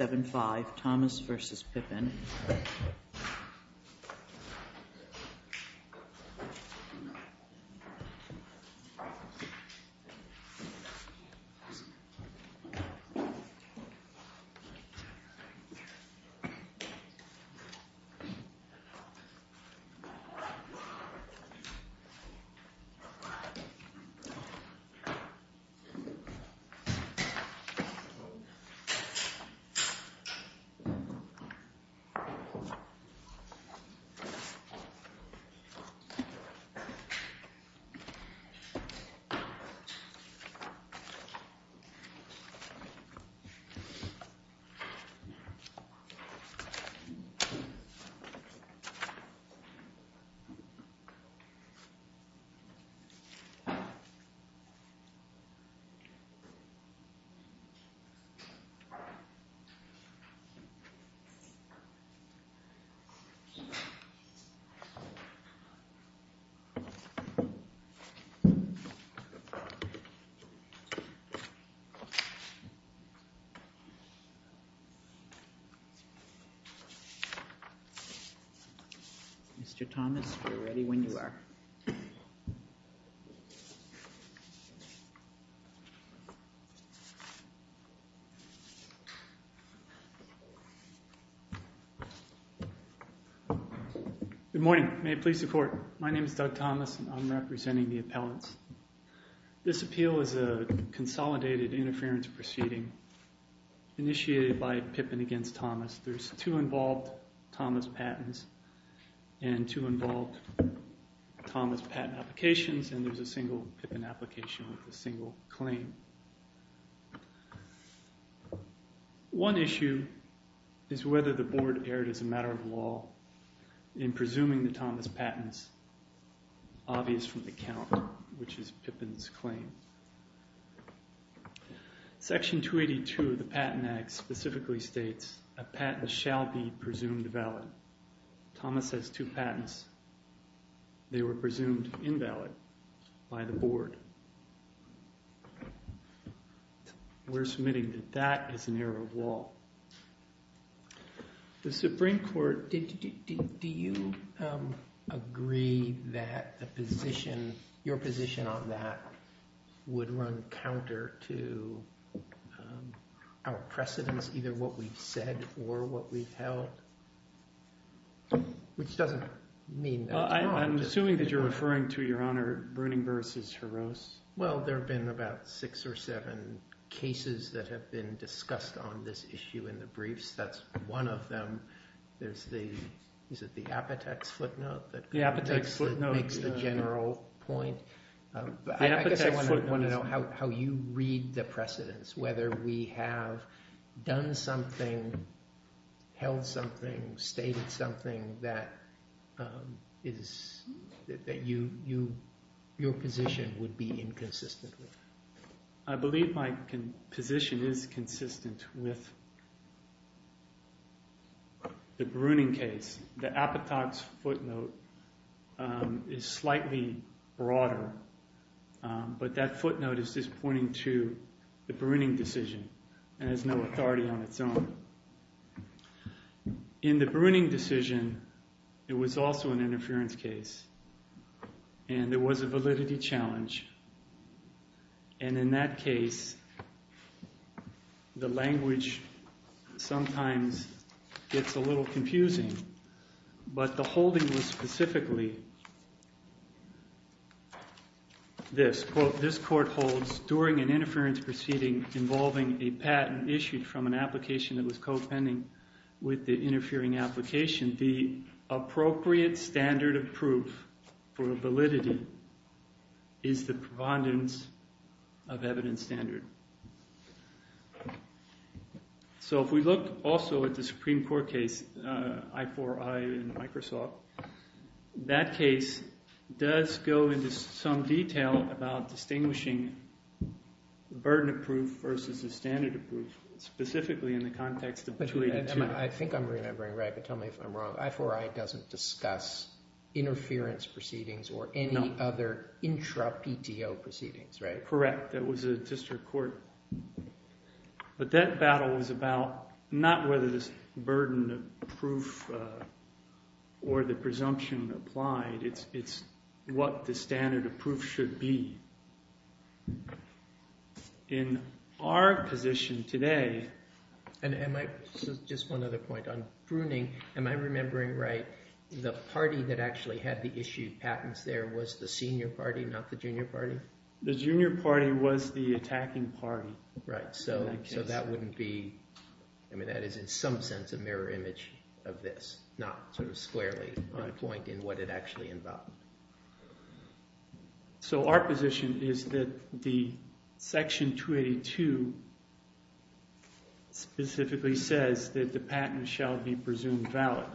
7-5 Thomas v. Pippin 8-5 Thomas v. Pippin 9-5 Thomas v. Pippin Good morning. May it please the court. My name is Doug Thomas and I'm representing the appellants. This appeal is a consolidated interference proceeding initiated by Pippin against Thomas. There's two involved Thomas patents and two involved Thomas patent applications and there's a single Pippin application with a single claim. One issue is whether the board erred as a matter of law in presuming the Thomas patents obvious from the count which is Pippin's claim. Section 282 of the Patent Act specifically states a patent shall be presumed valid. Thomas has two patents. They were presumed invalid by the board. We're submitting that that is an error of law. The Supreme Court did you agree that the position your position on that would run counter to our precedents either what we've said or what we've held. Which doesn't mean I'm assuming that you're referring to your honor. Well there have been about six or seven cases that have been discussed on this issue in the briefs. That's one of them. There's the is it the Apotex footnote that the Apotex footnote makes the general point. I guess I want to know how you read the precedents whether we have done something held something stated something that is that you your position would be inconsistent with. I believe my position is consistent with the Bruning case. The Apotex footnote is slightly broader but that footnote is just pointing to the Bruning decision and has no authority on its own. In the Bruning decision it was also an interference case and there was a validity challenge. And in that case the language sometimes gets a little confusing. But the holding was specifically this quote this court holds during an interference proceeding involving a patent issued from an application that was co-pending with the interfering application. The appropriate standard of proof for validity is the providence of evidence standard. So if we look also at the Supreme Court case I4I in Microsoft that case does go into some detail about distinguishing the burden of proof versus the standard of proof specifically in the context of 282. I think I'm remembering right but tell me if I'm wrong. I4I doesn't discuss interference proceedings or any other intra PTO proceedings right? Correct. That was a district court. But that battle was about not whether this burden of proof or the presumption applied. It's what the standard of proof should be. In our position today. And just one other point on Bruning am I remembering right the party that actually had the issued patents there was the senior party not the junior party? The junior party was the attacking party. Right so that wouldn't be I mean that is in some sense a mirror image of this not sort of squarely on point in what it actually involved. So our position is that the section 282 specifically says that the patent shall be presumed valid.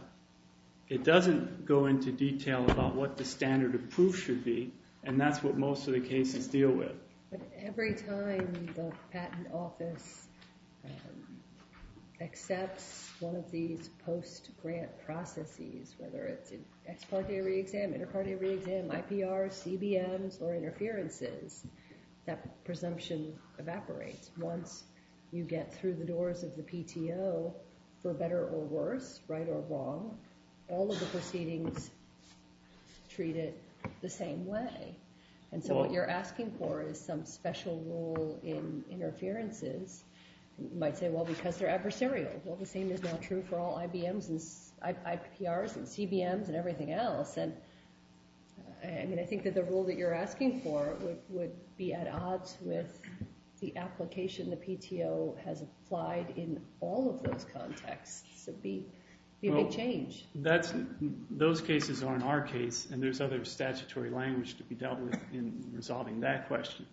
It doesn't go into detail about what the standard of proof should be and that's what most of the cases deal with. But every time the patent office accepts one of these post grant processes whether it's an ex parte re-exam, inter parte re-exam, IPR, CBMs or interferences that presumption evaporates. Once you get through the doors of the PTO for better or worse right or wrong all of the proceedings treat it the same way. And so what you're asking for is some special rule in interferences. You might say well because they're adversarial. Well the same is not true for all IBMs and IPRs and CBMs and everything else. I mean I think that the rule that you're asking for would be at odds with the application the PTO has applied in all of those contexts. It would be a big change. Those cases aren't our case and there's other statutory language to be dealt with in resolving that question.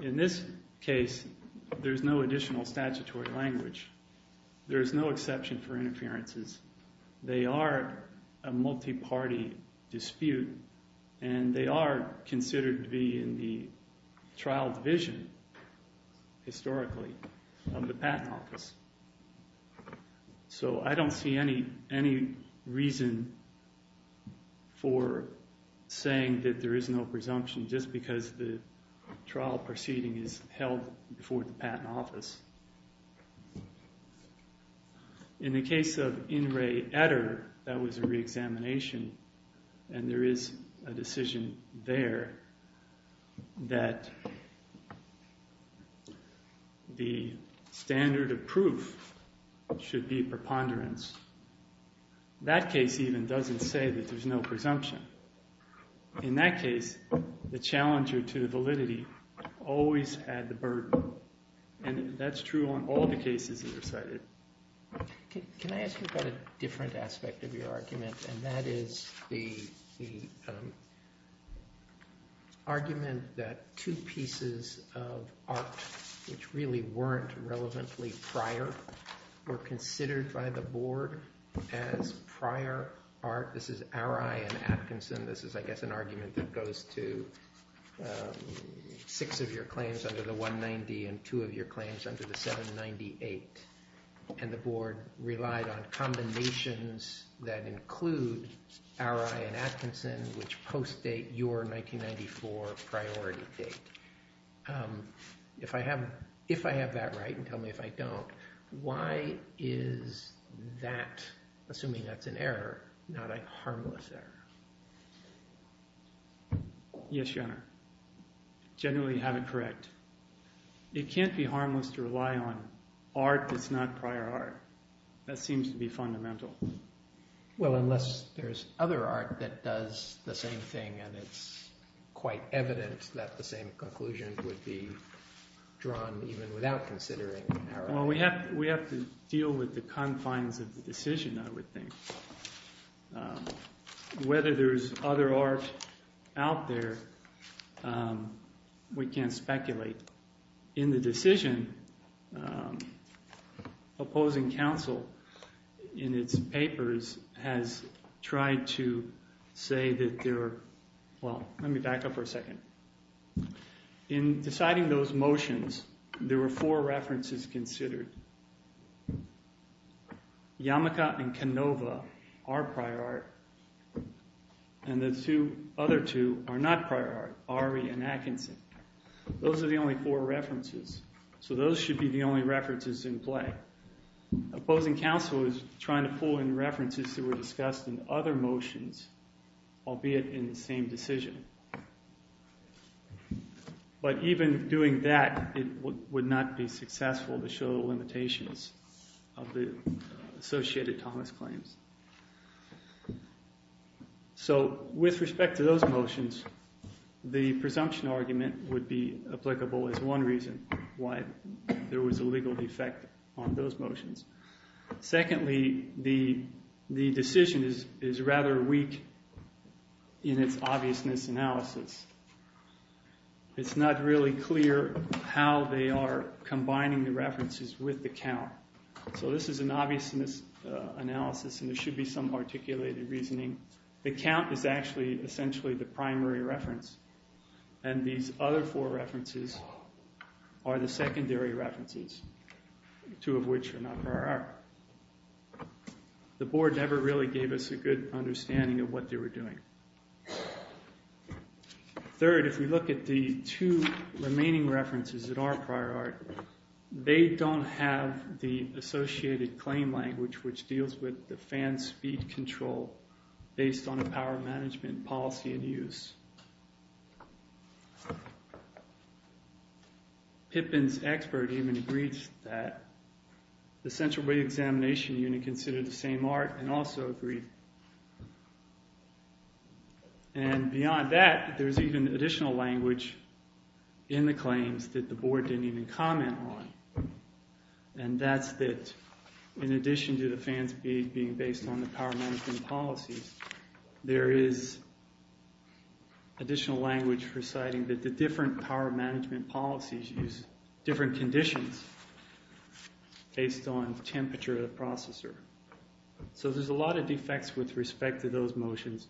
In this case there's no additional statutory language. There's no exception for interferences. They are a multi-party dispute and they are considered to be in the trial division historically of the patent office. So I don't see any reason for saying that there is no presumption just because the trial proceeding is held before the patent office. In the case of In Re Etter that was a re-examination and there is a decision there that the standard of proof should be preponderance. That case even doesn't say that there's no presumption. In that case the challenger to validity always had the burden. And that's true on all the cases that are cited. Can I ask you about a different aspect of your argument? And that is the argument that two pieces of art which really weren't relevantly prior were considered by the board as prior art. This is Ari and Atkinson. This is I guess an argument that goes to six of your claims under the 190 and two of your claims under the 798. And the board relied on combinations that include Ari and Atkinson which post-date your 1994 priority date. If I have that right and tell me if I don't, why is that, assuming that's an error, not a harmless error? Yes, your honor. Generally you have it correct. It can't be harmless to rely on art that's not prior art. That seems to be fundamental. Well, unless there's other art that does the same thing and it's quite evident that the same conclusion would be drawn even without considering Ari. Well, we have to deal with the confines of the decision I would think. Whether there's other art out there, we can't speculate. In the decision, opposing counsel in its papers has tried to say that there are, well, let me back up for a second. In deciding those motions, there were four references considered. Yamaka and Canova are prior art and the other two are not prior art, Ari and Atkinson. Those are the only four references. So those should be the only references in play. Opposing counsel is trying to pull in references that were discussed in other motions, albeit in the same decision. But even doing that, it would not be successful to show the limitations of the associated Thomas claims. So with respect to those motions, the presumption argument would be applicable as one reason why there was a legal defect on those motions. Secondly, the decision is rather weak in its obviousness analysis. It's not really clear how they are combining the references with the count. So this is an obviousness analysis and there should be some articulated reasoning. The count is actually essentially the primary reference. And these other four references are the secondary references, two of which are not prior art. The board never really gave us a good understanding of what they were doing. Third, if we look at the two remaining references that are prior art, they don't have the associated claim language, which deals with the fan speed control based on a power management policy in use. Pippin's expert even agrees that the central way examination unit considered the same art and also agreed. And beyond that, there's even additional language in the claims that the board didn't even comment on. And that's that in addition to the fans being based on the power management policies, there is additional language reciting that the different power management policies use different conditions based on temperature of the processor. So there's a lot of defects with respect to those motions.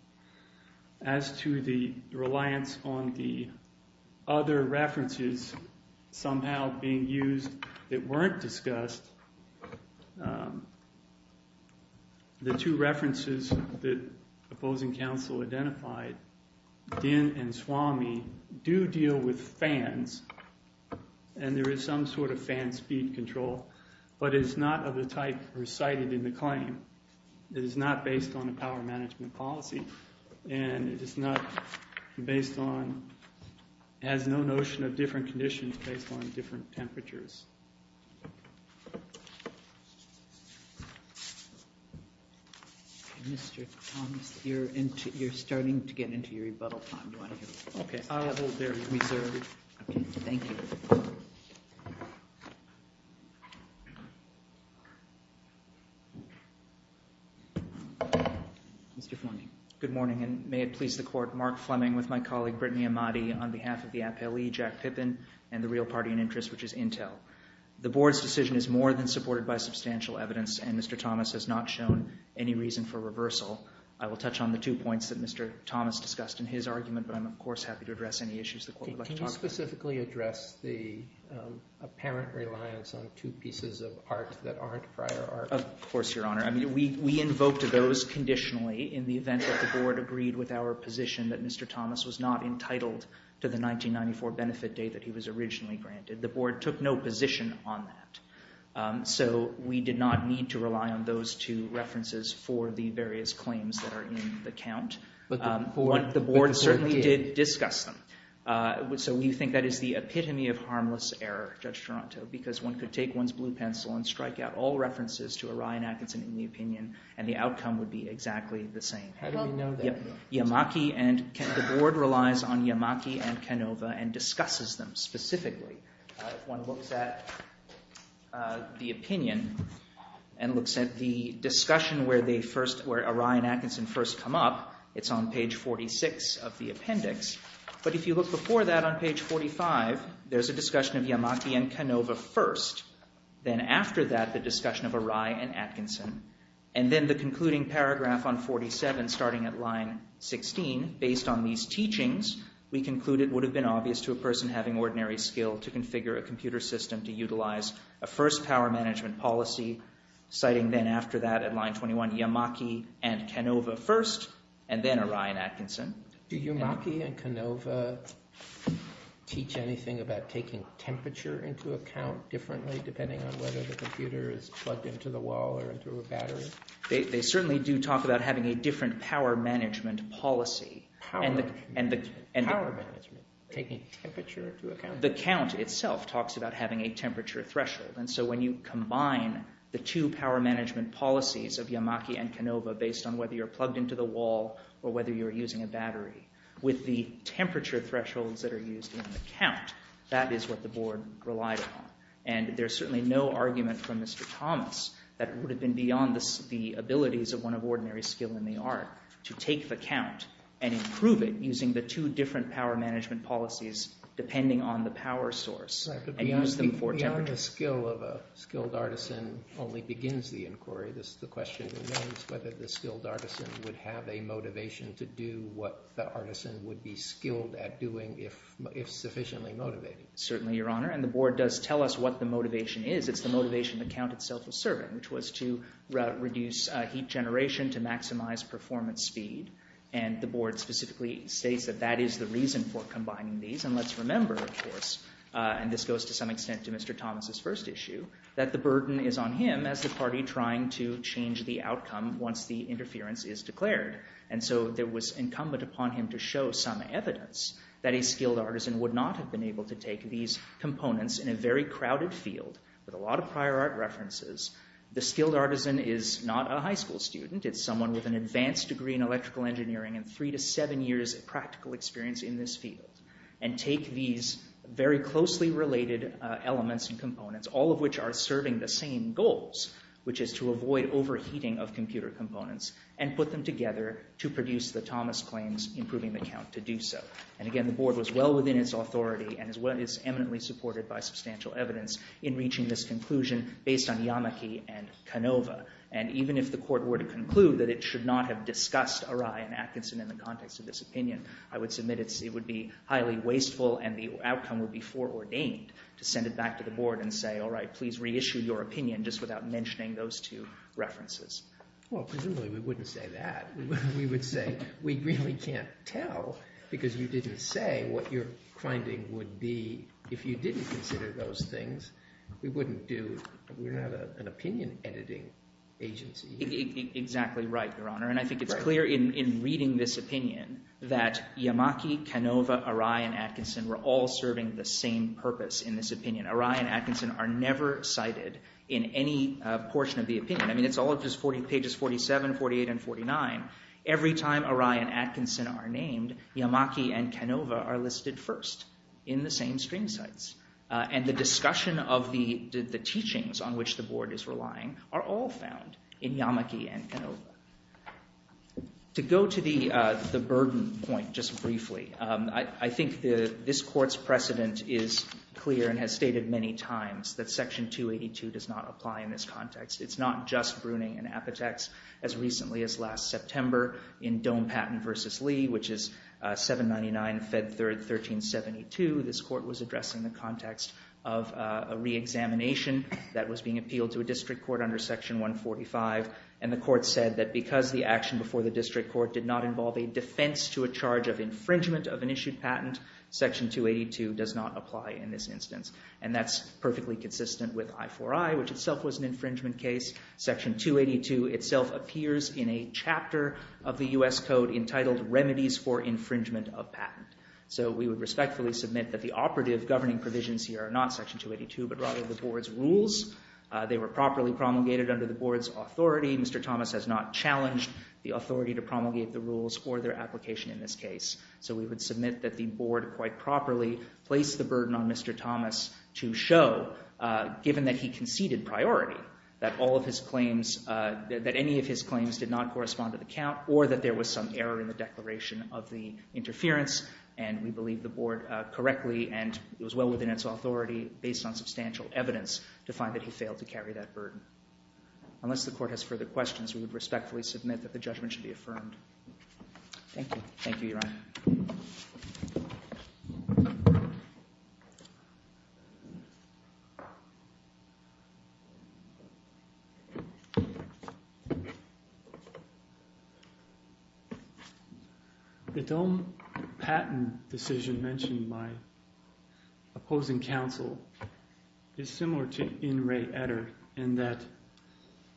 As to the reliance on the other references somehow being used that weren't discussed, the two references that opposing counsel identified, Dinh and Swami, do deal with fans. And there is some sort of fan speed control. But it's not of the type recited in the claim. It is not based on a power management policy. And it has no notion of different conditions based on different temperatures. Mr. Thomas, you're starting to get into your rebuttal time. I'll hold there. We serve. Thank you. Mr. Fleming. Good morning, and may it please the court, Mark Fleming with my colleague Brittany Amati on behalf of the appellee, Jack Pippin, and the real party in interest, which is Intel. The board's decision is more than supported by substantial evidence, and Mr. Thomas has not shown any reason for reversal. I will touch on the two points that Mr. Thomas discussed in his argument, but I'm, of course, happy to address any issues the court would like to talk about. Can you specifically address the apparent reliance on two pieces of art that aren't prior art? Of course, Your Honor. I mean, we invoked those conditionally in the event that the board agreed with our position that Mr. Thomas was not entitled to the 1994 benefit date that he was originally granted. The board took no position on that. So we did not need to rely on those two references for the various claims that are in the count. But the court did. The board certainly did discuss them. So we think that is the epitome of harmless error, Judge Toronto, because one could take one's blue pencil and strike out all references to Orion Atkinson in the opinion, and the outcome would be exactly the same. How do we know that? The board relies on Yamaki and Canova and discusses them specifically. One looks at the opinion and looks at the discussion where Orion Atkinson first come up. It's on page 46 of the appendix. But if you look before that on page 45, there's a discussion of Yamaki and Canova first. Then after that, the discussion of Orion Atkinson. And then the concluding paragraph on 47, starting at line 16, based on these teachings, we conclude it would have been obvious to a person having ordinary skill to configure a computer system to utilize a first power management policy, citing then after that at line 21, Yamaki and Canova first, and then Orion Atkinson. Do Yamaki and Canova teach anything about taking temperature into account differently, depending on whether the computer is plugged into the wall or into a battery? They certainly do talk about having a different power management policy. Power management, taking temperature into account? The count itself talks about having a temperature threshold. And so when you combine the two power management policies of Yamaki and Canova based on whether you're plugged into the wall or whether you're using a battery with the temperature thresholds that are used in the count, that is what the board relied on. And there's certainly no argument from Mr. Thomas that it would have been beyond the abilities of one of ordinary skill in the art to take the count and improve it using the two different power management policies depending on the power source and use them for temperature. The skill of a skilled artisan only begins the inquiry. The question remains whether the skilled artisan would have a motivation to do what the artisan would be skilled at doing if sufficiently motivated. Certainly, Your Honor. And the board does tell us what the motivation is. It's the motivation the count itself was serving, which was to reduce heat generation, to maximize performance speed. And the board specifically states that that is the reason for combining these. And let's remember, of course, and this goes to some extent to Mr. Thomas' first issue, that the burden is on him as the party trying to change the outcome once the interference is declared. And so it was incumbent upon him to show some evidence that a skilled artisan would not have been able to take these components in a very crowded field with a lot of prior art references. The skilled artisan is not a high school student. It's someone with an advanced degree in electrical engineering and three to seven years of practical experience in this field. And take these very closely related elements and components, all of which are serving the same goals, which is to avoid overheating of computer components, and put them together to produce the Thomas claims in proving the count to do so. And again, the board was well within its authority and is eminently supported by substantial evidence in reaching this conclusion based on Yamaki and Canova. And even if the court were to conclude that it should not have discussed Arai and Atkinson in the context of this opinion, I would submit it would be highly wasteful and the outcome would be foreordained to send it back to the board and say, all right, please reissue your opinion just without mentioning those two references. Well, presumably we wouldn't say that. We would say we really can't tell because you didn't say what your finding would be if you didn't consider those things. We wouldn't have an opinion editing agency. Exactly right, Your Honor. And I think it's clear in reading this opinion that Yamaki, Canova, Arai, and Atkinson were all serving the same purpose in this opinion. Arai and Atkinson are never cited in any portion of the opinion. I mean, it's all just pages 47, 48, and 49. Every time Arai and Atkinson are named, Yamaki and Canova are listed first in the same stream sites. And the discussion of the teachings on which the board is relying are all found in Yamaki and Canova. To go to the burden point just briefly, I think this court's precedent is clear and has stated many times that Section 282 does not apply in this context. It's not just Bruning and Apotex. As recently as last September in Doan Patent v. Lee, which is 799 Fed 3rd 1372, this court was addressing the context of a reexamination that was being appealed to a district court under Section 145. And the court said that because the action before the district court did not involve a defense to a charge of infringement of an issued patent, Section 282 does not apply in this instance. And that's perfectly consistent with I4I, which itself was an infringement case. Section 282 itself appears in a chapter of the U.S. Code entitled Remedies for Infringement of Patent. So we would respectfully submit that the operative governing provisions here are not Section 282 but rather the board's rules. They were properly promulgated under the board's authority. Mr. Thomas has not challenged the authority to promulgate the rules or their application in this case. So we would submit that the board quite properly placed the burden on Mr. Thomas to show, given that he conceded priority, that any of his claims did not correspond to the count or that there was some error in the declaration of the interference. And we believe the board correctly and it was well within its authority, based on substantial evidence, to find that he failed to carry that burden. Unless the court has further questions, we would respectfully submit that the judgment should be affirmed. Thank you. Thank you, Your Honor. The Dohm patent decision mentioned by opposing counsel is similar to in re etter in that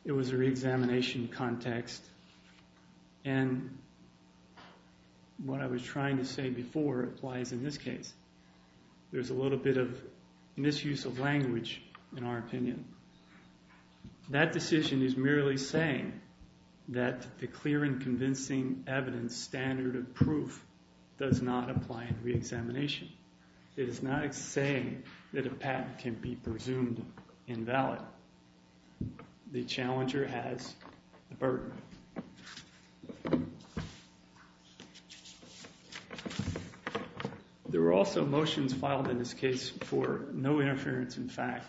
it was a reexamination context. And what I was trying to say before applies in this case. There's a little bit of misuse of language in our opinion. That decision is merely saying that the clear and convincing evidence standard of proof does not apply in reexamination. It is not saying that a patent can be presumed invalid. The challenger has the burden. There were also motions filed in this case for no interference in fact,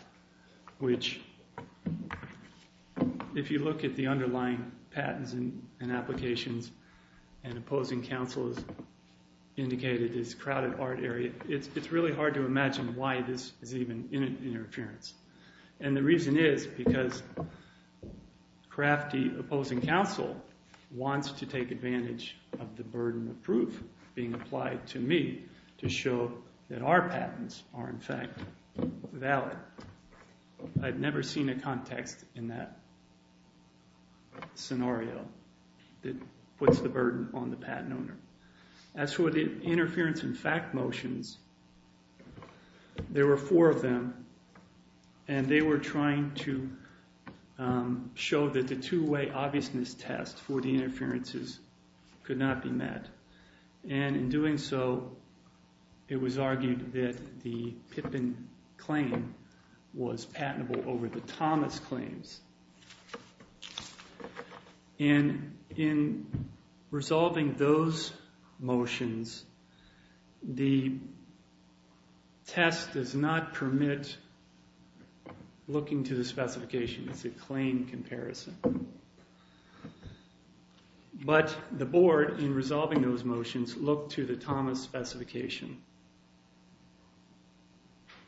which if you look at the underlying patents and applications and opposing counsel has indicated this crowded art area, it's really hard to imagine why this is even interference. And the reason is because crafty opposing counsel wants to take advantage of the burden of proof being applied to me to show that our patents are in fact valid. I've never seen a context in that scenario that puts the burden on the patent owner. As for the interference in fact motions, there were four of them, and they were trying to show that the two-way obviousness test for the interferences could not be met. And in doing so, it was argued that the Pippin claim was patentable over the Thomas claims. And in resolving those motions, the test does not permit looking to the specification. It's a claim comparison. But the board, in resolving those motions, looked to the Thomas specification.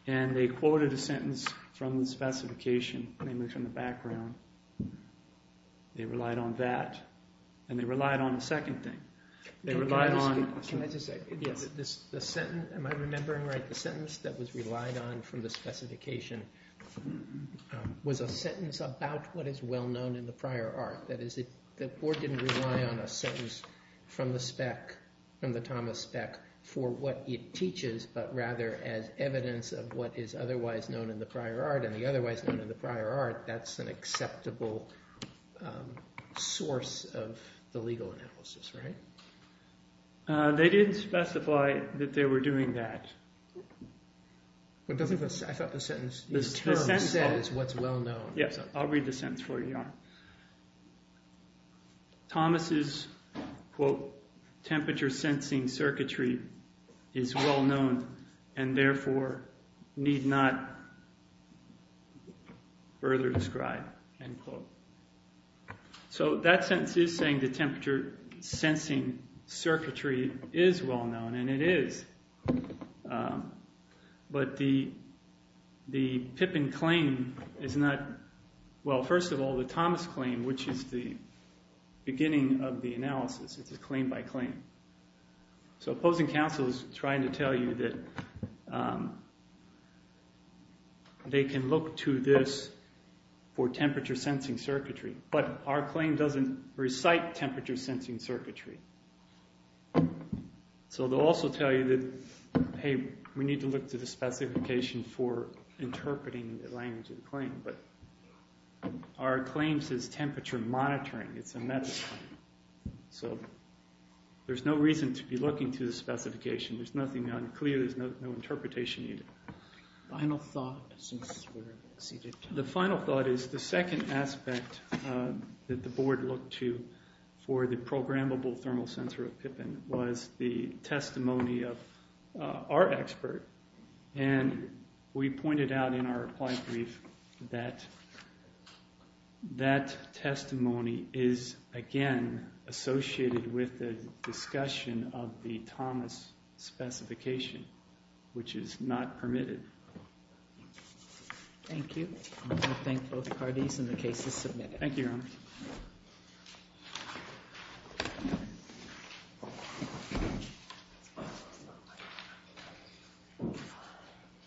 And they quoted a sentence from the specification, namely from the background. They relied on that. And they relied on the second thing. They relied on... Can I just say, the sentence, am I remembering right? The sentence that was relied on from the specification was a sentence about what is well known in the prior art. That is, the board didn't rely on a sentence from the spec, from the Thomas spec, for what it teaches, but rather as evidence of what is otherwise known in the prior art. And the otherwise known in the prior art, that's an acceptable source of the legal analysis, right? They didn't specify that they were doing that. I thought the sentence, the term says what's well known. Yes, I'll read the sentence for you. Thomas's, quote, temperature sensing circuitry is well known and therefore need not further describe, end quote. So that sentence is saying the temperature sensing circuitry is well known, and it is. But the Pippin claim is not... Well, first of all, the Thomas claim, which is the beginning of the analysis, it's a claim by claim. So opposing counsel is trying to tell you that they can look to this for temperature sensing circuitry. But our claim doesn't recite temperature sensing circuitry. So they'll also tell you that, hey, we need to look to the specification for interpreting the language of the claim. But our claim says temperature monitoring. It's a meta-claim. So there's no reason to be looking to the specification. There's nothing unclear. There's no interpretation needed. Final thought, since we've exceeded time. The final thought is the second aspect that the board looked to for the programmable thermal sensor of Pippin was the testimony of our expert. And we pointed out in our reply brief that that testimony is, again, associated with the discussion of the Thomas specification, which is not permitted. Thank you. I thank both parties and the case is submitted.